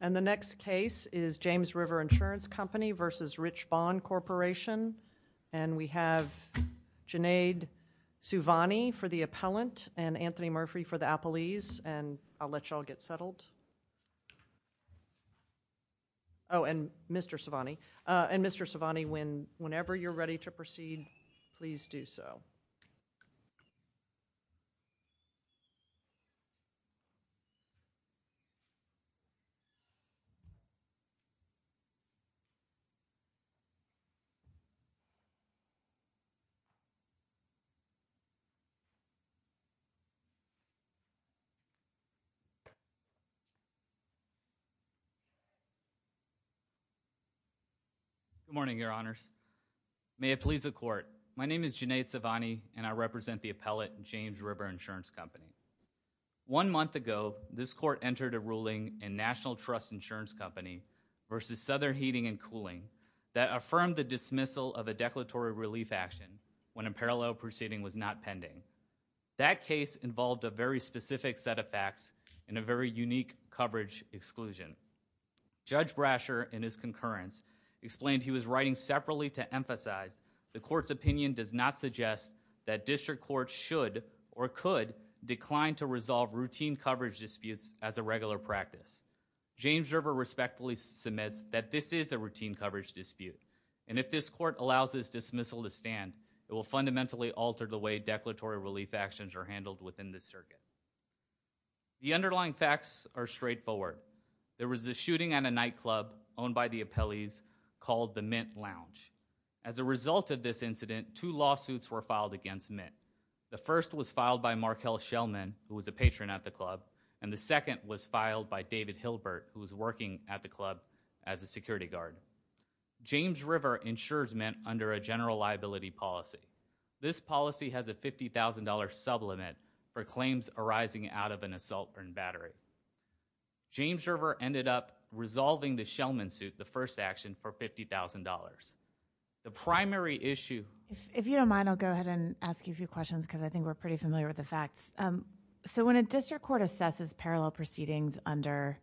And the next case is James River Insurance Company v. Rich Bon Corporation. And we have Junaid Suvani for the appellant and Anthony Murphy for the appellees, and I'll let you all get settled. Oh, and Mr. Suvani. And Mr. Suvani, whenever you're ready to proceed, please do so. Good morning, Your Honors. May it please the Court. My name is Junaid Suvani, and I represent the appellate, James River Insurance Company. One month ago, this Court entered a ruling in National Trust Insurance Company v. Souther Heating and Cooling that affirmed the dismissal of a declaratory relief action when a parallel proceeding was not pending. That case involved a very specific set of facts and a very unique coverage exclusion. Judge Brasher, in his concurrence, explained he was writing separately to emphasize the Court's opinion does not suggest that district courts should or could decline to resolve routine coverage disputes as a regular practice. James River respectfully submits that this is a routine coverage dispute, and if this Court allows this dismissal to stand, it will fundamentally alter the way declaratory relief actions are handled within this circuit. The underlying facts are straightforward. There was a shooting at a nightclub owned by the appellees called the Mint Lounge. As a result of this incident, two lawsuits were filed against Mint. The first was filed by Markel Shellman, who was a patron at the club, and the second was filed by David Hilbert, who was working at the club as a security guard. James River insures Mint under a general liability policy. This policy has a $50,000 sublimit for claims arising out of an assault or invader. James River ended up resolving the Shellman suit, the first action, for $50,000. The primary issue If you don't mind, I'll go ahead and ask you a few questions because I think we're pretty familiar with the facts. When a district court assesses parallel proceedings under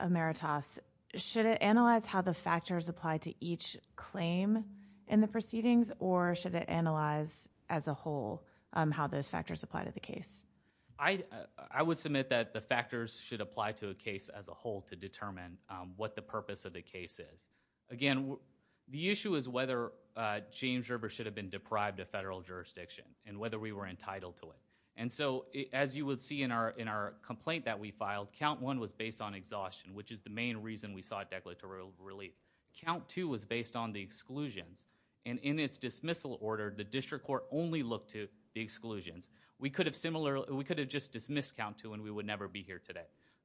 emeritus, should it analyze how the factors apply to each claim in the proceedings, or should it analyze as a whole how those factors apply to the case? I would submit that the factors should apply to a case as a whole to determine what the purpose of the case is. Again, the issue is whether James River should have been deprived of federal jurisdiction and whether we were entitled to it. As you would see in our complaint that we filed, count one was based on exhaustion, which is the main reason we sought declaratory relief. Count two was based on the exclusions. In its dismissal order, the district court only looked to the exclusions. We could have just dismissed count two and we would never be here today.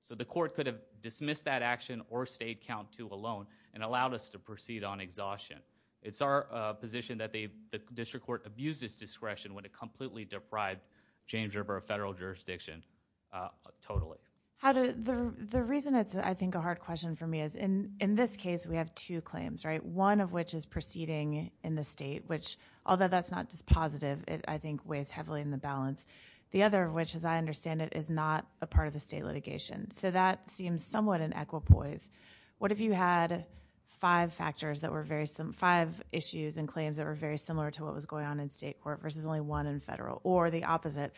The court could have dismissed that action or stayed count two alone and allowed us to proceed on exhaustion. It's our position that the district court abused its discretion when it completely deprived James River of federal jurisdiction, totally. The reason it's, I think, a hard question for me is, in this case, we have two claims, right? One of which is proceeding in the state, which, although that's not just positive, it, I think, weighs heavily in the balance. The other, which, as I understand it, is not a part of the state litigation, so that seems somewhat in equipoise. What if you had five factors that were very, five issues and claims that were very similar to what was going on in state court versus only one in federal? Or the opposite,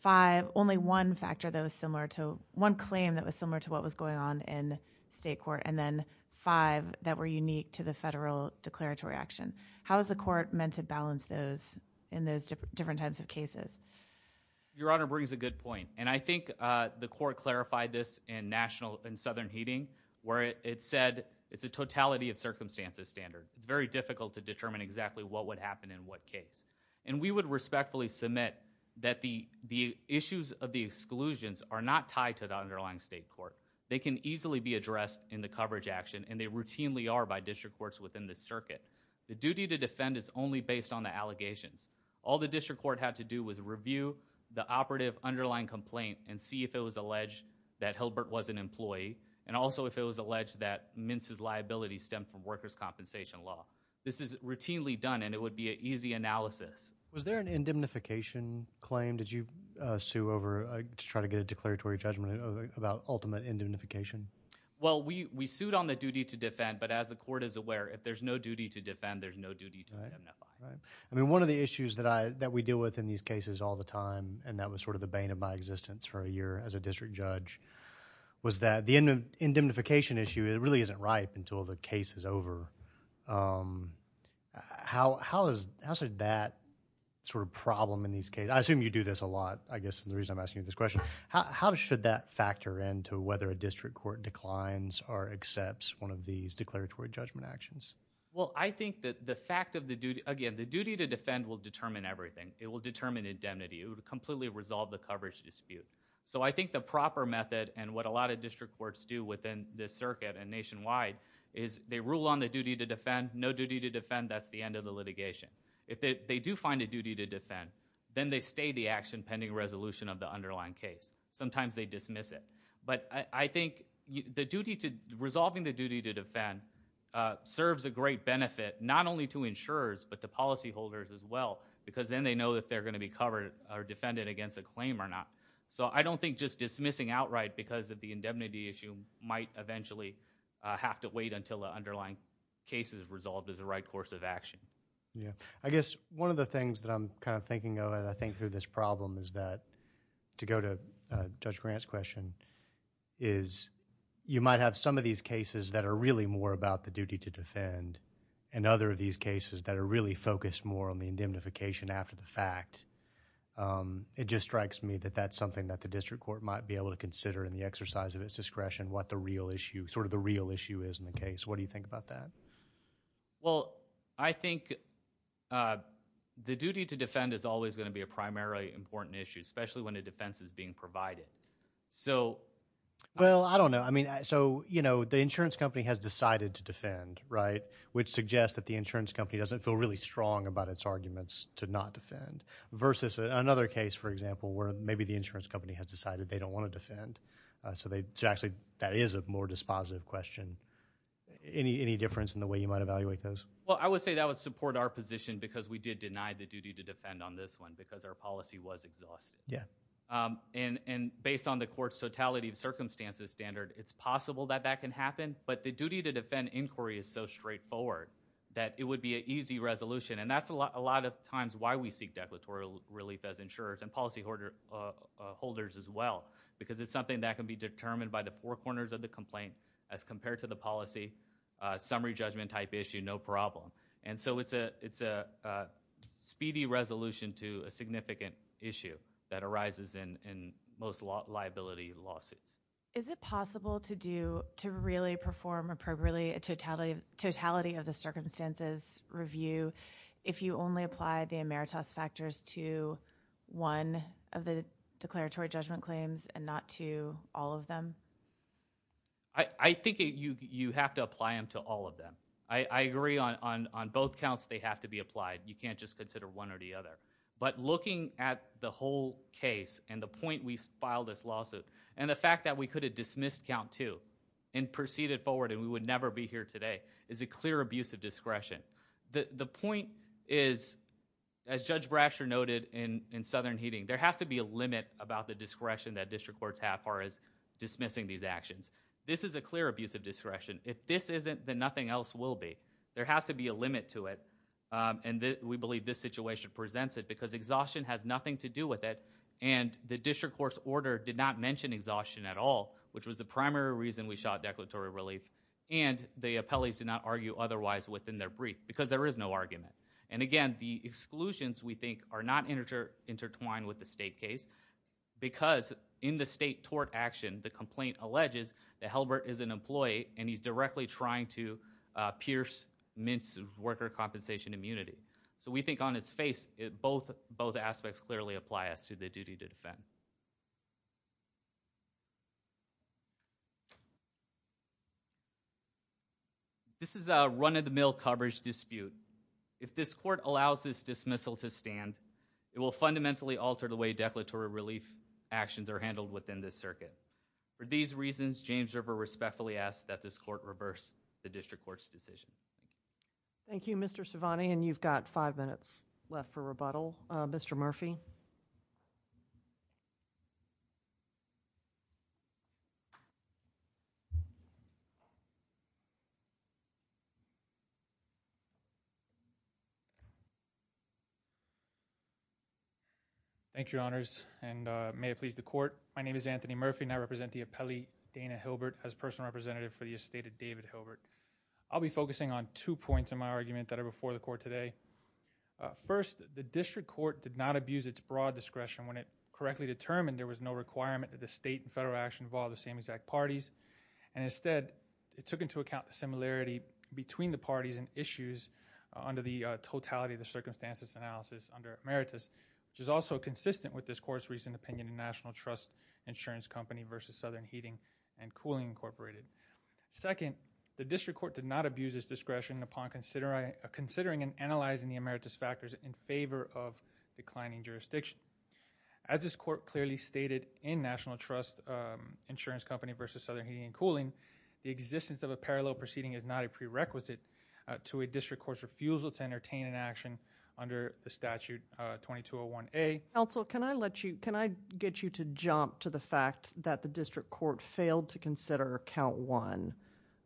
five, only one factor that was similar to, one claim that was similar to what was going on in state court, and then five that were unique to the federal declaratory action. How is the court meant to balance those in those different types of cases? Your Honor brings a good point, and I think the court clarified this in national, in Southern Heating, where it said it's a totality of circumstances standard. It's very difficult to determine exactly what would happen in what case, and we would respectfully submit that the issues of the exclusions are not tied to the underlying state court. They can easily be addressed in the coverage action, and they routinely are by district courts within the circuit. The duty to defend is only based on the allegations. All the district court had to do was review the operative underlying complaint and see if it was alleged that Hilbert was an employee, and also if it was alleged that Mintz's liability stemmed from workers' compensation law. This is routinely done, and it would be an easy analysis. Was there an indemnification claim did you sue over to try to get a declaratory judgment about ultimate indemnification? Well, we sued on the duty to defend, but as the court is aware, if there's no duty to defend, there's no duty to indemnify. One of the issues that we deal with in these cases all the time, and that was the bane of my existence for a year as a district judge, was that the indemnification issue really isn't ripe until the case is over. How is that sort of problem in these cases? I assume you do this a lot, I guess, and the reason I'm asking you this question. How should that factor into whether a district court declines or accepts one of these declaratory judgment actions? Well, I think that the fact of the duty, again, the duty to defend will determine everything. It will determine indemnity. It would completely resolve the coverage dispute. So I think the proper method, and what a lot of district courts do within the circuit and nationwide, is they rule on the duty to defend. No duty to defend, that's the end of the litigation. If they do find a duty to defend, then they stay the action pending resolution of the underlying case. Sometimes they dismiss it, but I think the duty to, resolving the duty to defend serves a great benefit, not only to insurers, but to policyholders as well, because then they know that they're going to be covered or defended against a claim or not. So I don't think just dismissing outright because of the indemnity issue might eventually have to wait until the underlying case is resolved as the right course of action. I guess one of the things that I'm kind of thinking of as I think through this problem is that, to go to Judge Grant's question, is you might have some of these cases that are really more about the duty to defend, and other of these cases that are really focused more on the indemnification after the fact. It just strikes me that that's something that the district court might be able to consider in the exercise of its discretion, what the real issue, sort of the real issue is in the case. What do you think about that? Well, I think the duty to defend is always going to be a primarily important issue, especially when a defense is being provided. So I don't know. So the insurance company has decided to defend, right? Which suggests that the insurance company doesn't feel really strong about its arguments to not defend, versus another case, for example, where maybe the insurance company has decided they don't want to defend. So actually, that is a more dispositive question. Any difference in the way you might evaluate those? Well, I would say that would support our position, because we did deny the duty to defend on this one, because our policy was exhaustive. And based on the court's totality of circumstances standard, it's possible that that can happen, but the duty to defend inquiry is so straightforward that it would be an easy resolution. And that's a lot of times why we seek declaratory relief as insurers and policyholders as well, because it's something that can be determined by the four corners of the complaint as compared to the policy, summary judgment type issue, no problem. And so it's a speedy resolution to a significant issue that arises in most liability lawsuits. Is it possible to do, to really perform appropriately a totality of the circumstances review if you only apply the emeritus factors to one of the declaratory judgment claims and not to all of them? I think you have to apply them to all of them. I agree on both counts, they have to be applied. You can't just consider one or the other. But looking at the whole case and the point we filed this lawsuit, and the fact that we could have dismissed count two and proceeded forward and we would never be here today is a clear abuse of discretion. The point is, as Judge Brasher noted in Southern Heating, there has to be a limit about the discretion that district courts have as far as dismissing these actions. This is a clear abuse of discretion. If this isn't, then nothing else will be. There has to be a limit to it, and we believe this situation presents it, because exhaustion has nothing to do with it. And the district court's order did not mention exhaustion at all, which was the primary reason we shot declaratory relief. And the appellees did not argue otherwise within their brief, because there is no argument. And again, the exclusions, we think, are not intertwined with the state case, because in the state tort action, the complaint alleges that Halbert is an employee and he's directly trying to pierce, mince worker compensation immunity. So we think on its face, both aspects clearly apply as to the duty to defend. This is a run-of-the-mill coverage dispute. If this court allows this dismissal to stand, it will fundamentally alter the way declaratory relief actions are handled within this circuit. For these reasons, James River respectfully asks that this court reverse the district court's decision. Thank you, Mr. Cervante, and you've got five minutes left for rebuttal. Mr. Murphy? Thank you, Your Honors, and may it please the Court. My name is Anthony Murphy, and I represent the appellee Dana Hilbert as personal representative for the estate of David Hilbert. I'll be focusing on two points in my argument that are before the Court today. First, the district court did not abuse its broad discretion when it correctly determined there was no requirement that the state and federal action involve the same exact parties. And instead, it took into account the similarity between the parties and issues under the totality of the circumstances analysis under emeritus, which is also consistent with this Court's recent opinion in National Trust Insurance Company v. Southern Heating and Cooling Incorporated. Second, the district court did not abuse its discretion upon considering and analyzing the emeritus factors in favor of declining jurisdiction. As this Court clearly stated in National Trust Insurance Company v. Southern Heating and Cooling, the existence of a parallel proceeding is not a prerequisite to a district court's refusal to entertain an action under the statute 2201A. Counsel, can I let you, can I get you to jump to the fact that the district court failed to consider count one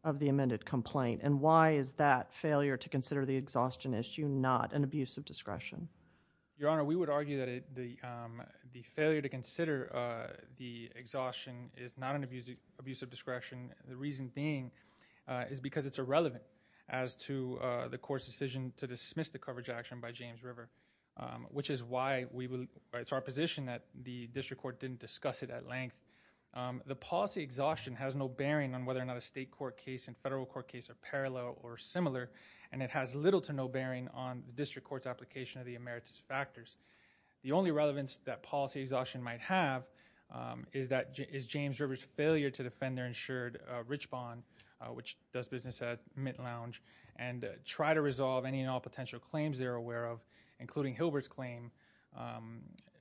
of the amended complaint? And why is that failure to consider the exhaustion issue not an abuse of discretion? Your Honor, we would argue that the failure to consider the exhaustion is not an abuse of discretion. The reason being is because it's irrelevant as to the Court's decision to dismiss the It's our position that the district court didn't discuss it at length. The policy exhaustion has no bearing on whether or not a state court case and federal court case are parallel or similar, and it has little to no bearing on the district court's application of the emeritus factors. The only relevance that policy exhaustion might have is that, is James River's failure to defend their insured rich bond, which does business at Mint Lounge, and try to resolve any and all potential claims they're aware of, including Hilbert's claim,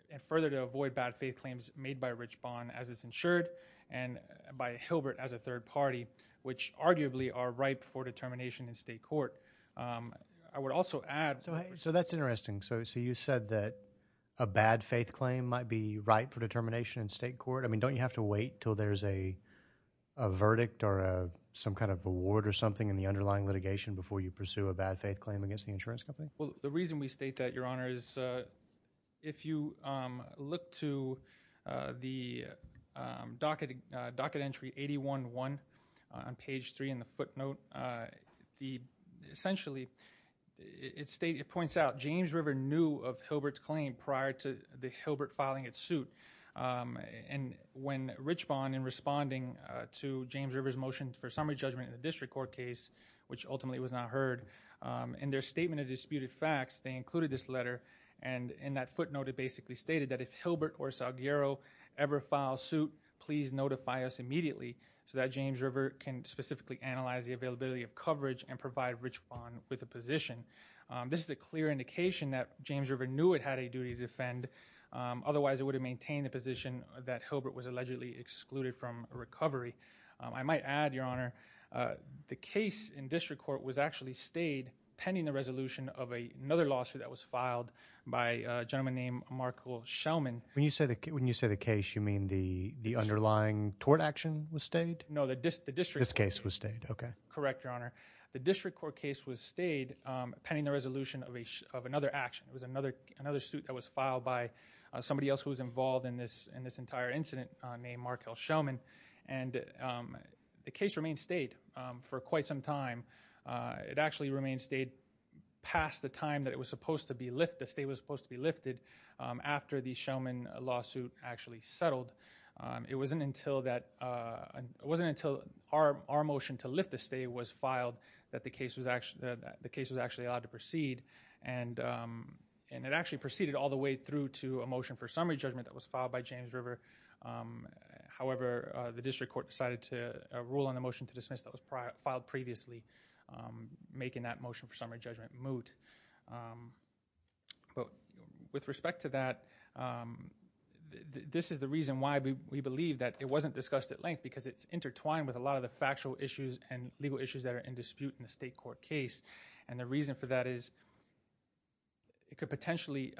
and further to avoid bad faith claims made by a rich bond as it's insured, and by Hilbert as a third party, which arguably are ripe for determination in state court. I would also add. So that's interesting. So you said that a bad faith claim might be ripe for determination in state court. I mean, don't you have to wait until there's a verdict or some kind of award or something in the underlying litigation before you pursue a bad faith claim against the insurance company? Well, the reason we state that, Your Honor, is if you look to the docket entry 811 on page 3 in the footnote, essentially it points out James River knew of Hilbert's claim prior to the Hilbert filing its suit, and when rich bond, in responding to James River's motion for summary judgment in the district court case, which ultimately was not heard, in their statement of disputed facts, they included this letter, and in that footnote it basically stated that if Hilbert or Salguero ever file suit, please notify us immediately so that James River can specifically analyze the availability of coverage and provide rich bond with a position. This is a clear indication that James River knew it had a duty to defend, otherwise it would have maintained the position that Hilbert was allegedly excluded from recovery. I might add, Your Honor, the case in district court was actually stayed pending the resolution of another lawsuit that was filed by a gentleman named Markel Shellman. When you say the case, you mean the underlying tort action was stayed? No, the district court case was stayed. Correct, Your Honor. The district court case was stayed pending the resolution of another action. It was another suit that was filed by somebody else who was involved in this entire incident named Markel Shellman, and the case remained stayed for quite some time. It actually remained stayed past the time that it was supposed to be lifted, the stay was supposed to be lifted after the Shellman lawsuit actually settled. It wasn't until our motion to lift the stay was filed that the case was actually allowed to proceed, and it actually proceeded all the way through to a motion for summary judgment that was filed by James River. However, the district court decided to rule on the motion to dismiss that was filed previously, making that motion for summary judgment moot. But with respect to that, this is the reason why we believe that it wasn't discussed at length because it's intertwined with a lot of the factual issues and legal issues that are in dispute in the state court case, and the reason for that is it could potentially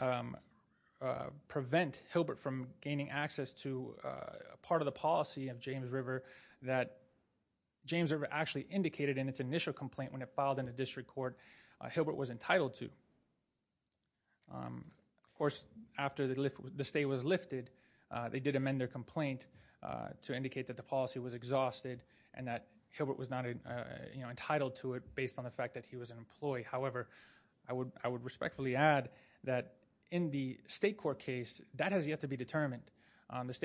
prevent Hilbert from gaining access to a part of the policy of James River that James River actually indicated in its initial complaint when it filed in the district court Hilbert was entitled to. Of course, after the stay was lifted, they did amend their complaint to indicate that the policy was exhausted and that Hilbert was not entitled to it based on the fact that he was an employee. However, I would respectfully add that in the state court case, that has yet to be determined. But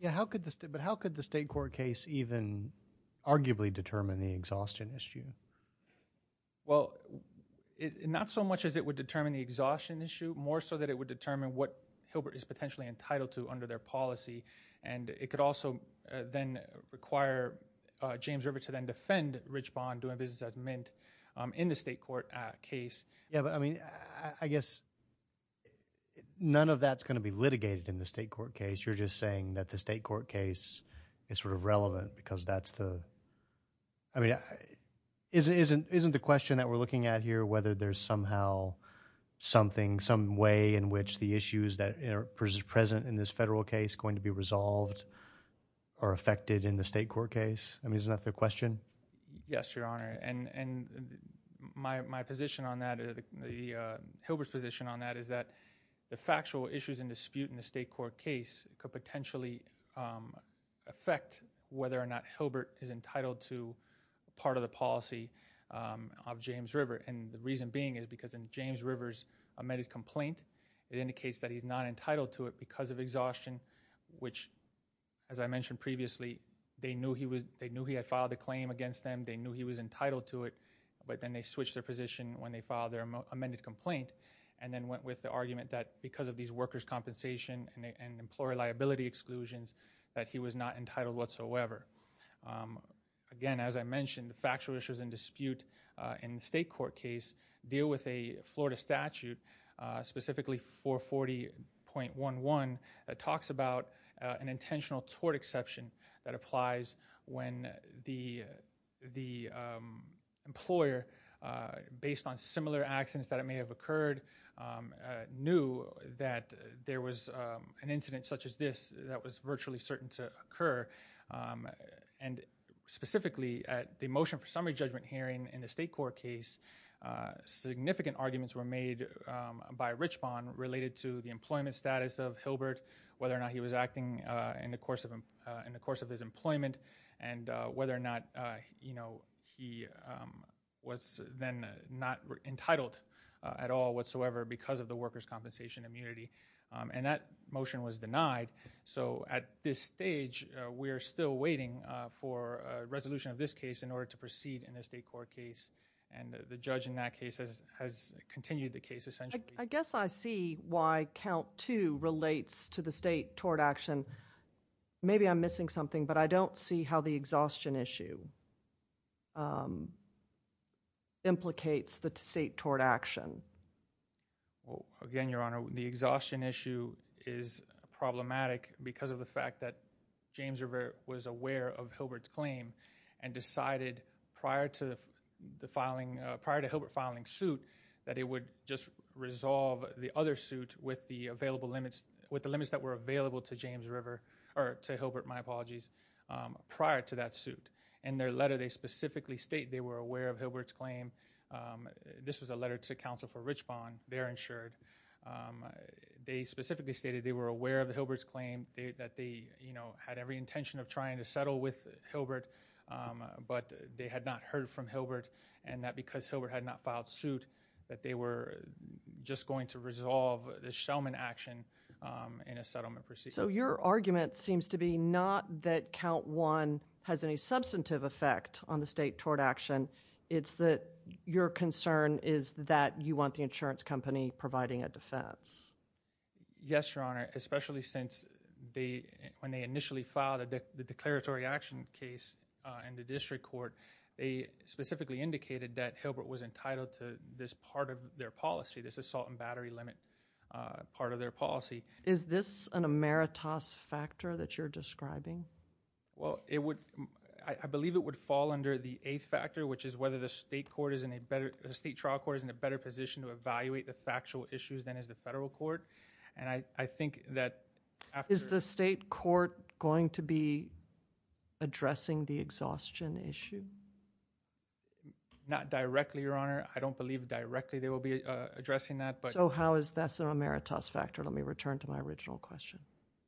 how could the state court case even arguably determine the exhaustion issue? Well, not so much as it would determine the exhaustion issue, more so that it would determine what Hilbert is potentially entitled to under their policy, and it could also then require James River to then defend Rich Bond doing business as mint in the state court case. Yeah, but I mean, I guess none of that's going to be litigated in the state court case. You're just saying that the state court case is sort of relevant because that's the, I mean, isn't the question that we're looking at here whether there's somehow something, some way in which the issues that are present in this federal case going to be resolved are affected in the state court case? I mean, is that the question? Yes, Your Honor. And my position on that, the Hilbert's position on that is that the factual issues in dispute in the state court case could potentially affect whether or not Hilbert is entitled to part of the policy of James River. And the reason being is because in James River's amended complaint, it indicates that he's not entitled to it because of exhaustion, which, as I mentioned previously, they knew he was, they knew he had filed a claim against them. They knew he was entitled to it, but then they switched their position when they filed their amended complaint and then went with the argument that because of these workers' compensation and employer liability exclusions that he was not entitled whatsoever. Again, as I mentioned, the factual issues in dispute in the state court case deal with a Florida statute, specifically 440.11 that talks about an intentional tort exception that applies when the employer, based on similar accidents that may have occurred, knew that there was an incident such as this that was virtually certain to occur. And specifically, at the motion for summary judgment hearing in the state court case, significant arguments were made by Richbond related to the employment status of Hilbert, whether or not he was acting in the course of his employment, and whether or not he was then not entitled at all whatsoever because of the workers' compensation immunity. And that motion was denied. So at this stage, we are still waiting for a resolution of this case in order to proceed in the state court case. And the judge in that case has continued the case, essentially. I guess I see why count two relates to the state tort action. Maybe I'm missing something, but I don't see how the exhaustion issue implicates the state tort action. Well, again, Your Honor, the exhaustion issue is problematic because of the fact that James was aware of Hilbert's claim and decided prior to Hilbert filing suit that it would just resolve the other suit with the available limits, with the limits that were available to James River, or to Hilbert, my apologies, prior to that suit. In their letter, they specifically state they were aware of Hilbert's claim. This was a letter to counsel for Richbond, their insured. They specifically stated they were aware of Hilbert's claim, that they, you know, had every intention of trying to settle with Hilbert, but they had not heard from Hilbert, and that because Hilbert had not filed suit, that they were just going to resolve the Shellman action in a settlement procedure. So your argument seems to be not that count one has any substantive effect on the state tort action. It's that your concern is that you want the insurance company providing a defense. Yes, Your Honor, especially since they, when they initially filed the declaratory action case in the district court, they specifically indicated that Hilbert was entitled to this part of their policy, this assault and battery limit part of their policy. Is this an emeritus factor that you're describing? Well, it would, I believe it would fall under the eighth factor, which is whether the state court is in a better, the state trial court is in a better position to evaluate the factual issues than is the federal court, and I think that after... Is the state court going to be addressing the exhaustion issue? Not directly, Your Honor. I don't believe directly they will be addressing that, but... So how is this an emeritus factor? Let me return to my original question.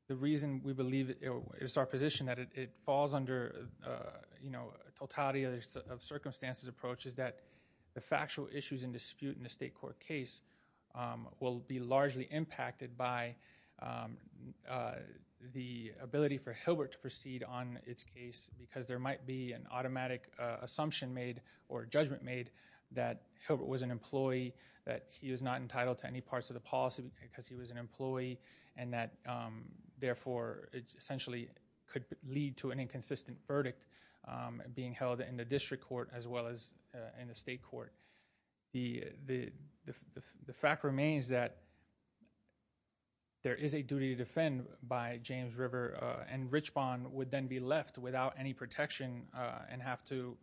The reason we believe it's our position that it falls under, you know, totality of circumstances approach is that the factual issues in dispute in the state court case will be largely impacted by the ability for Hilbert to proceed on its case because there might be an automatic assumption made or judgment made that Hilbert was an employee, that he was not entitled to any parts of the policy because he was an employee, and that, therefore, it essentially could lead to an inconsistent verdict being held in the district court as well as in the state court. The fact remains that there is a duty to defend by James River, and Richbond would then be left without any protection and have to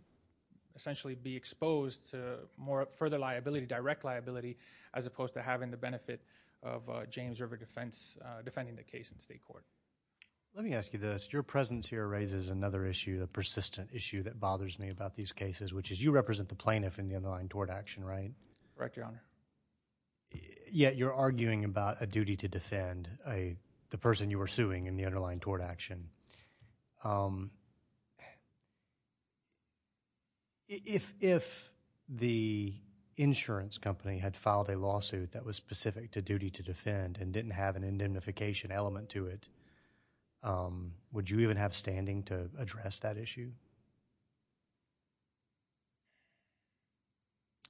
essentially be exposed to more further liability, direct liability, as opposed to having the benefit of James River defense defending the case in state court. Let me ask you this. Your presence here raises another issue, a persistent issue that bothers me about these cases, which is you represent the plaintiff in the underlying tort action, right? Correct, Your Honor. Yet you're arguing about a duty to defend, the person you are suing in the underlying tort action. If the insurance company had filed a lawsuit that was specific to duty to defend and didn't have an indemnification element to it, would you even have standing to address that issue?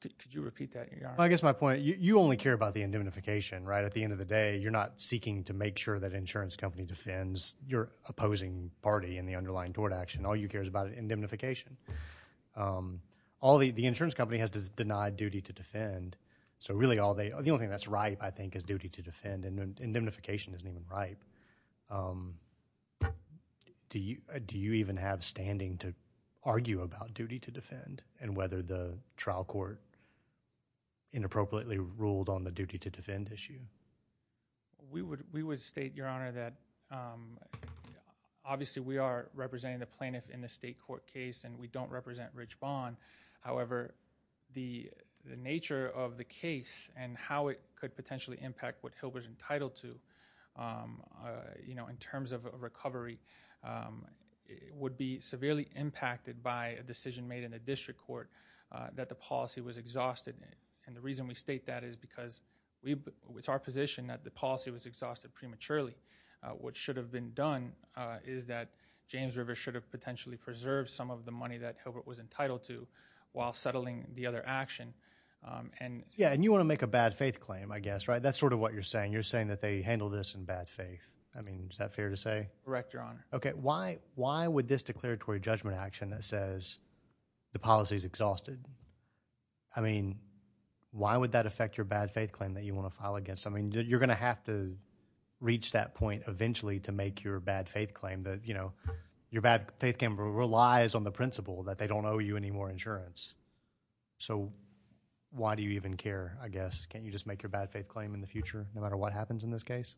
Could you repeat that, Your Honor? Well, I guess my point, you only care about the indemnification, right? At the end of the day, you're not seeking to make sure that insurance company defends your opposing party in the underlying tort action. All you care is about indemnification. The insurance company has denied duty to defend, so really, the only thing that's ripe, I think, is duty to defend, and indemnification isn't even ripe. Do you even have standing to argue about duty to defend and whether the trial court inappropriately ruled on the duty to defend issue? We would state, Your Honor, that obviously we are representing the plaintiff in the state court case and we don't represent Rich Bond. However, the nature of the case and how it could potentially impact what Hilbert is entitled to in terms of recovery would be severely impacted by a decision made in the district court that the policy was exhausted, and the reason we state that is because it's our position that the policy was exhausted prematurely. What should have been done is that James Rivers should have potentially preserved some of the money that Hilbert was entitled to while settling the other action. Yeah, and you want to make a bad faith claim, I guess, right? That's sort of what you're saying. You're saying that they handle this in bad faith. I mean, is that fair to say? Correct, Your Honor. Okay. Why would this declaratory judgment action that says the policy is exhausted, I mean, why would that affect your bad faith claim that you want to file against? I mean, you're going to have to reach that point eventually to make your bad faith claim that, you know, your bad faith claim relies on the principle that they don't owe you any more insurance. So why do you even care, I guess? Can't you just make your bad faith claim in the future no matter what happens in this case?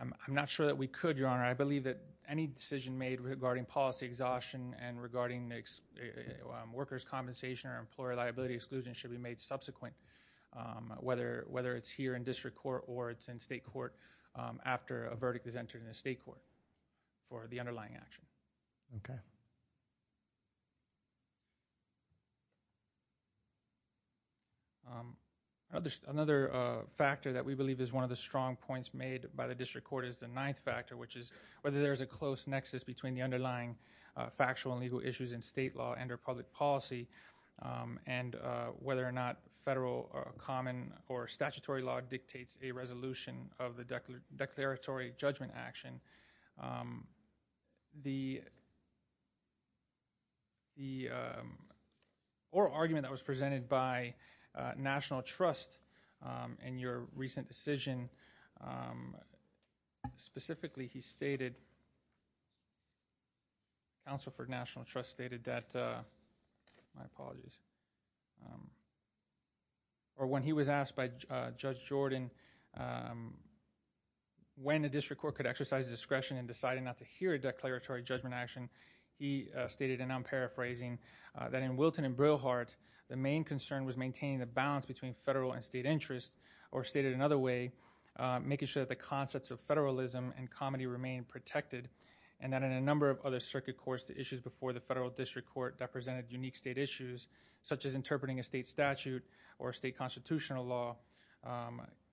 I'm not sure that we could, Your Honor. I believe that any decision made regarding policy exhaustion and regarding workers' compensation or employer liability exclusion should be made subsequent, whether it's here in district court or it's in state court after a verdict is entered in the state court for the underlying action. Okay. Another factor that we believe is one of the strong points made by the district court is the ninth factor, which is whether there's a close nexus between the underlying factual and legal issues in state law and or public policy and whether or not federal common or statutory law the the or argument that was presented by National Trust in your recent decision specifically he stated counsel for National Trust stated that my apologies or when he was asked by Judge Jordan when the district court could exercise discretion in deciding not to hear a declaratory judgment action he stated and I'm paraphrasing that in Wilton and Brilhart the main concern was maintaining the balance between federal and state interest or stated another way making sure that the concepts of federalism and comedy remain protected and that in a number of other circuit courts the issues before the federal district court that presented unique state issues such as interpreting a state statute or state constitutional law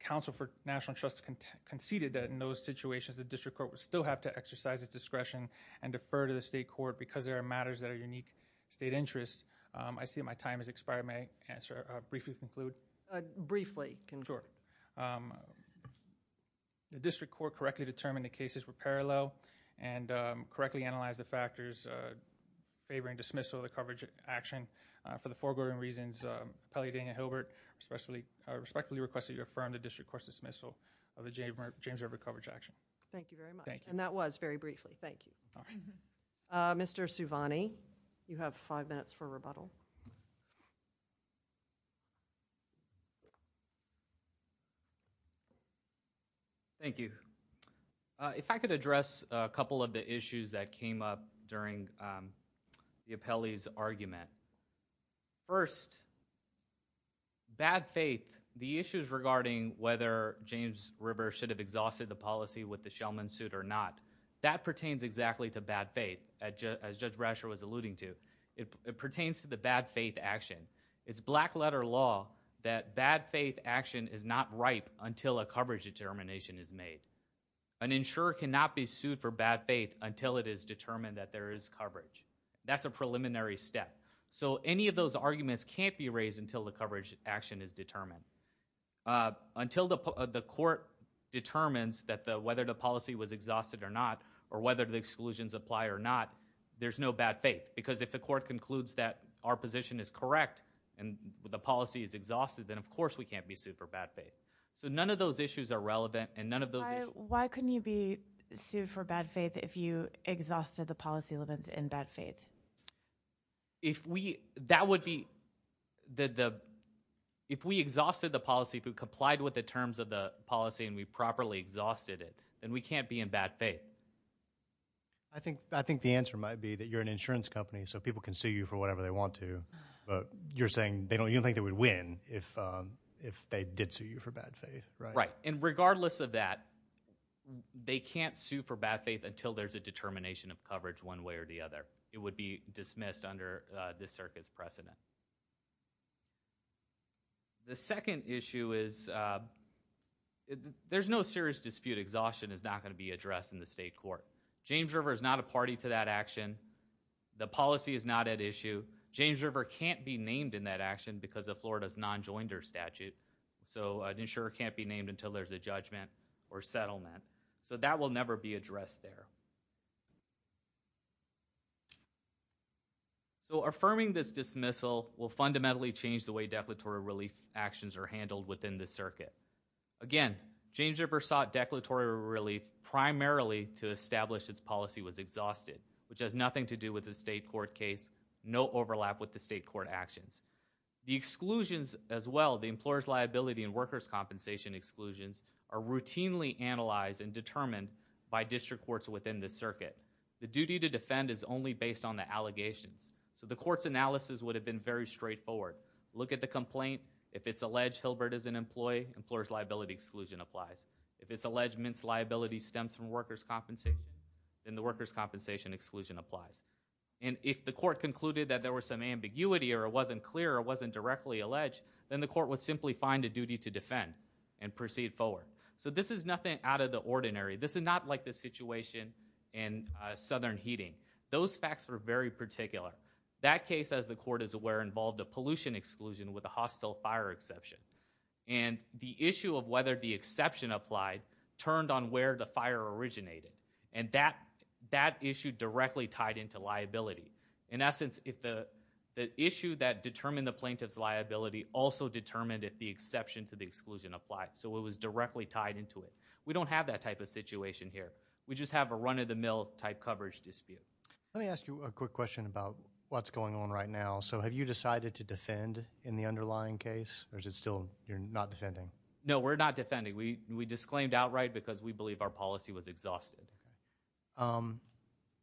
counsel for National Trust conceded that in those situations the district court would still have to exercise its discretion and defer to the state court because there are matters that are unique state interest I see my time has expired my answer briefly conclude briefly the district court correctly determined the cases were parallel and correctly analyze the factors favoring dismissal of the coverage action for the foregoing reasons appellee daniel hilbert especially respectfully requested to affirm the district court's dismissal of the james river coverage action thank you very much and that was very briefly thank you Mr. Suvani you have five minutes for rebuttal thank you if I could address a couple of the issues that came up during the appellee's argument first bad faith the issues regarding whether james river should have exhausted the policy with the shellman suit or not that pertains exactly to bad faith as judge brasher was alluding to it pertains to the bad faith action it's black letter law that bad faith action is not ripe until a coverage determination is made an insurer cannot be sued for bad faith until it is determined that there is coverage that's a preliminary step so any of those arguments can't be raised until the coverage action is determined until the the court determines that the whether the policy was exhausted or not or whether the exclusions apply or not there's no bad faith because if the court concludes that our position is correct and the policy is exhausted then of course we can't be sued for bad faith so none of those issues are relevant and none of those why couldn't you be sued for bad faith if you exhausted the policy limits in bad faith if we that would be the the if we exhausted the policy if we complied with the terms of the policy and we properly exhausted it then we can't be in bad faith i think i think the answer might be that you're an insurance company so people can sue you for whatever they want to but you're saying they don't you think they would win if um if they did sue you for bad faith right and regardless of that they can't sue for bad faith until there's a determination of coverage one way or the other it would be dismissed under this circuit's precedent the second issue is there's no serious dispute exhaustion is not going to be addressed in the state court james river is not a party to that action the policy is not at issue james river can't be named in that action because of florida's non-joinder statute so an insurer can't be or settlement so that will never be addressed there so affirming this dismissal will fundamentally change the way declaratory relief actions are handled within the circuit again james river sought declaratory relief primarily to establish its policy was exhausted which has nothing to do with the state court case no overlap with the state court actions the exclusions as well the employer's liability and workers compensation exclusions are routinely analyzed and determined by district courts within the circuit the duty to defend is only based on the allegations so the court's analysis would have been very straightforward look at the complaint if it's alleged hilbert is an employee employer's liability exclusion applies if it's alleged mince liability stems from workers compensating then the workers compensation exclusion applies and if the court concluded that there was some ambiguity or it wasn't clear it wasn't directly alleged then the court would simply find a duty to defend and proceed forward so this is nothing out of the ordinary this is not like the situation in southern heating those facts were very particular that case as the court is aware involved a pollution exclusion with a hostile fire exception and the issue of whether the exception applied turned on where the fire originated and that that issue directly tied into liability in essence if the the issue that determined the plaintiff's liability also determined if the exception to the exclusion applied so it was directly tied into it we don't have that type of situation here we just have a run of the mill type coverage dispute let me ask you a quick question about what's going on right now so have you decided to defend in the underlying case or is it still you're not defending no we're not defending we we disclaimed outright because we believe our policy was exhausted um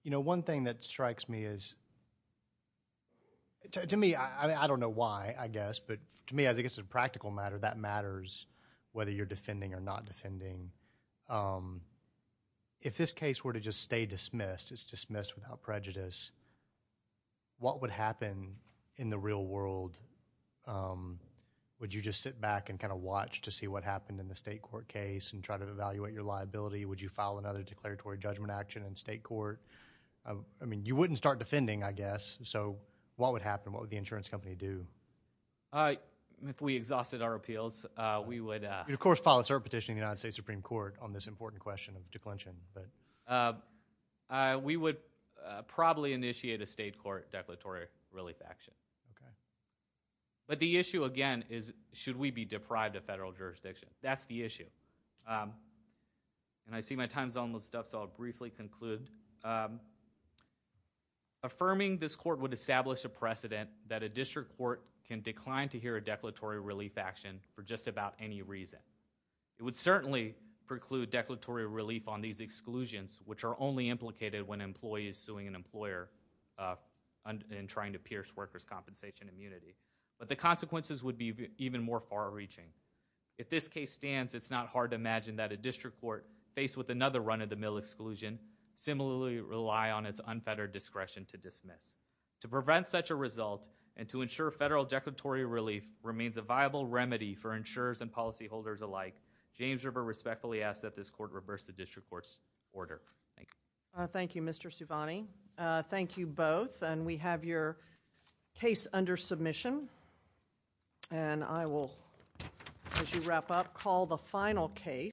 you know one thing that strikes me is to me i i don't know why i guess but to me i guess it's a practical matter that matters whether you're defending or not defending um if this case were to just stay dismissed it's dismissed without prejudice what would happen in the real world um would you just sit back and kind of watch to see what happened in the state court case and try to evaluate your liability would you file another declaratory judgment action in state court i mean you wouldn't start defending i guess so what would happen what would the insurance company do uh if we exhausted our appeals uh we would of course file a cert petition in the united states supreme court on this important question of declension but uh we would probably initiate a state court declaratory relief action okay but the issue again is should we be deprived of federal jurisdiction that's the issue and i see my time's almost up so i'll briefly conclude um affirming this court would establish a precedent that a district court can decline to hear a declaratory relief action for just about any reason it would certainly preclude declaratory relief on these exclusions which are only implicated when employees suing an employer and trying to pierce workers compensation immunity but the consequences would be even more far-reaching if this case stands it's not hard to imagine that a district court faced with another run of the mill exclusion similarly rely on its unfettered discretion to dismiss to prevent such a result and to ensure federal declaratory relief remains a viable remedy for insurers and policyholders alike james river respectfully asks that this court reverse the district court's order thank you thank you mr suvani uh thank you both and we have your case under submission and i will as you wrap up call the final case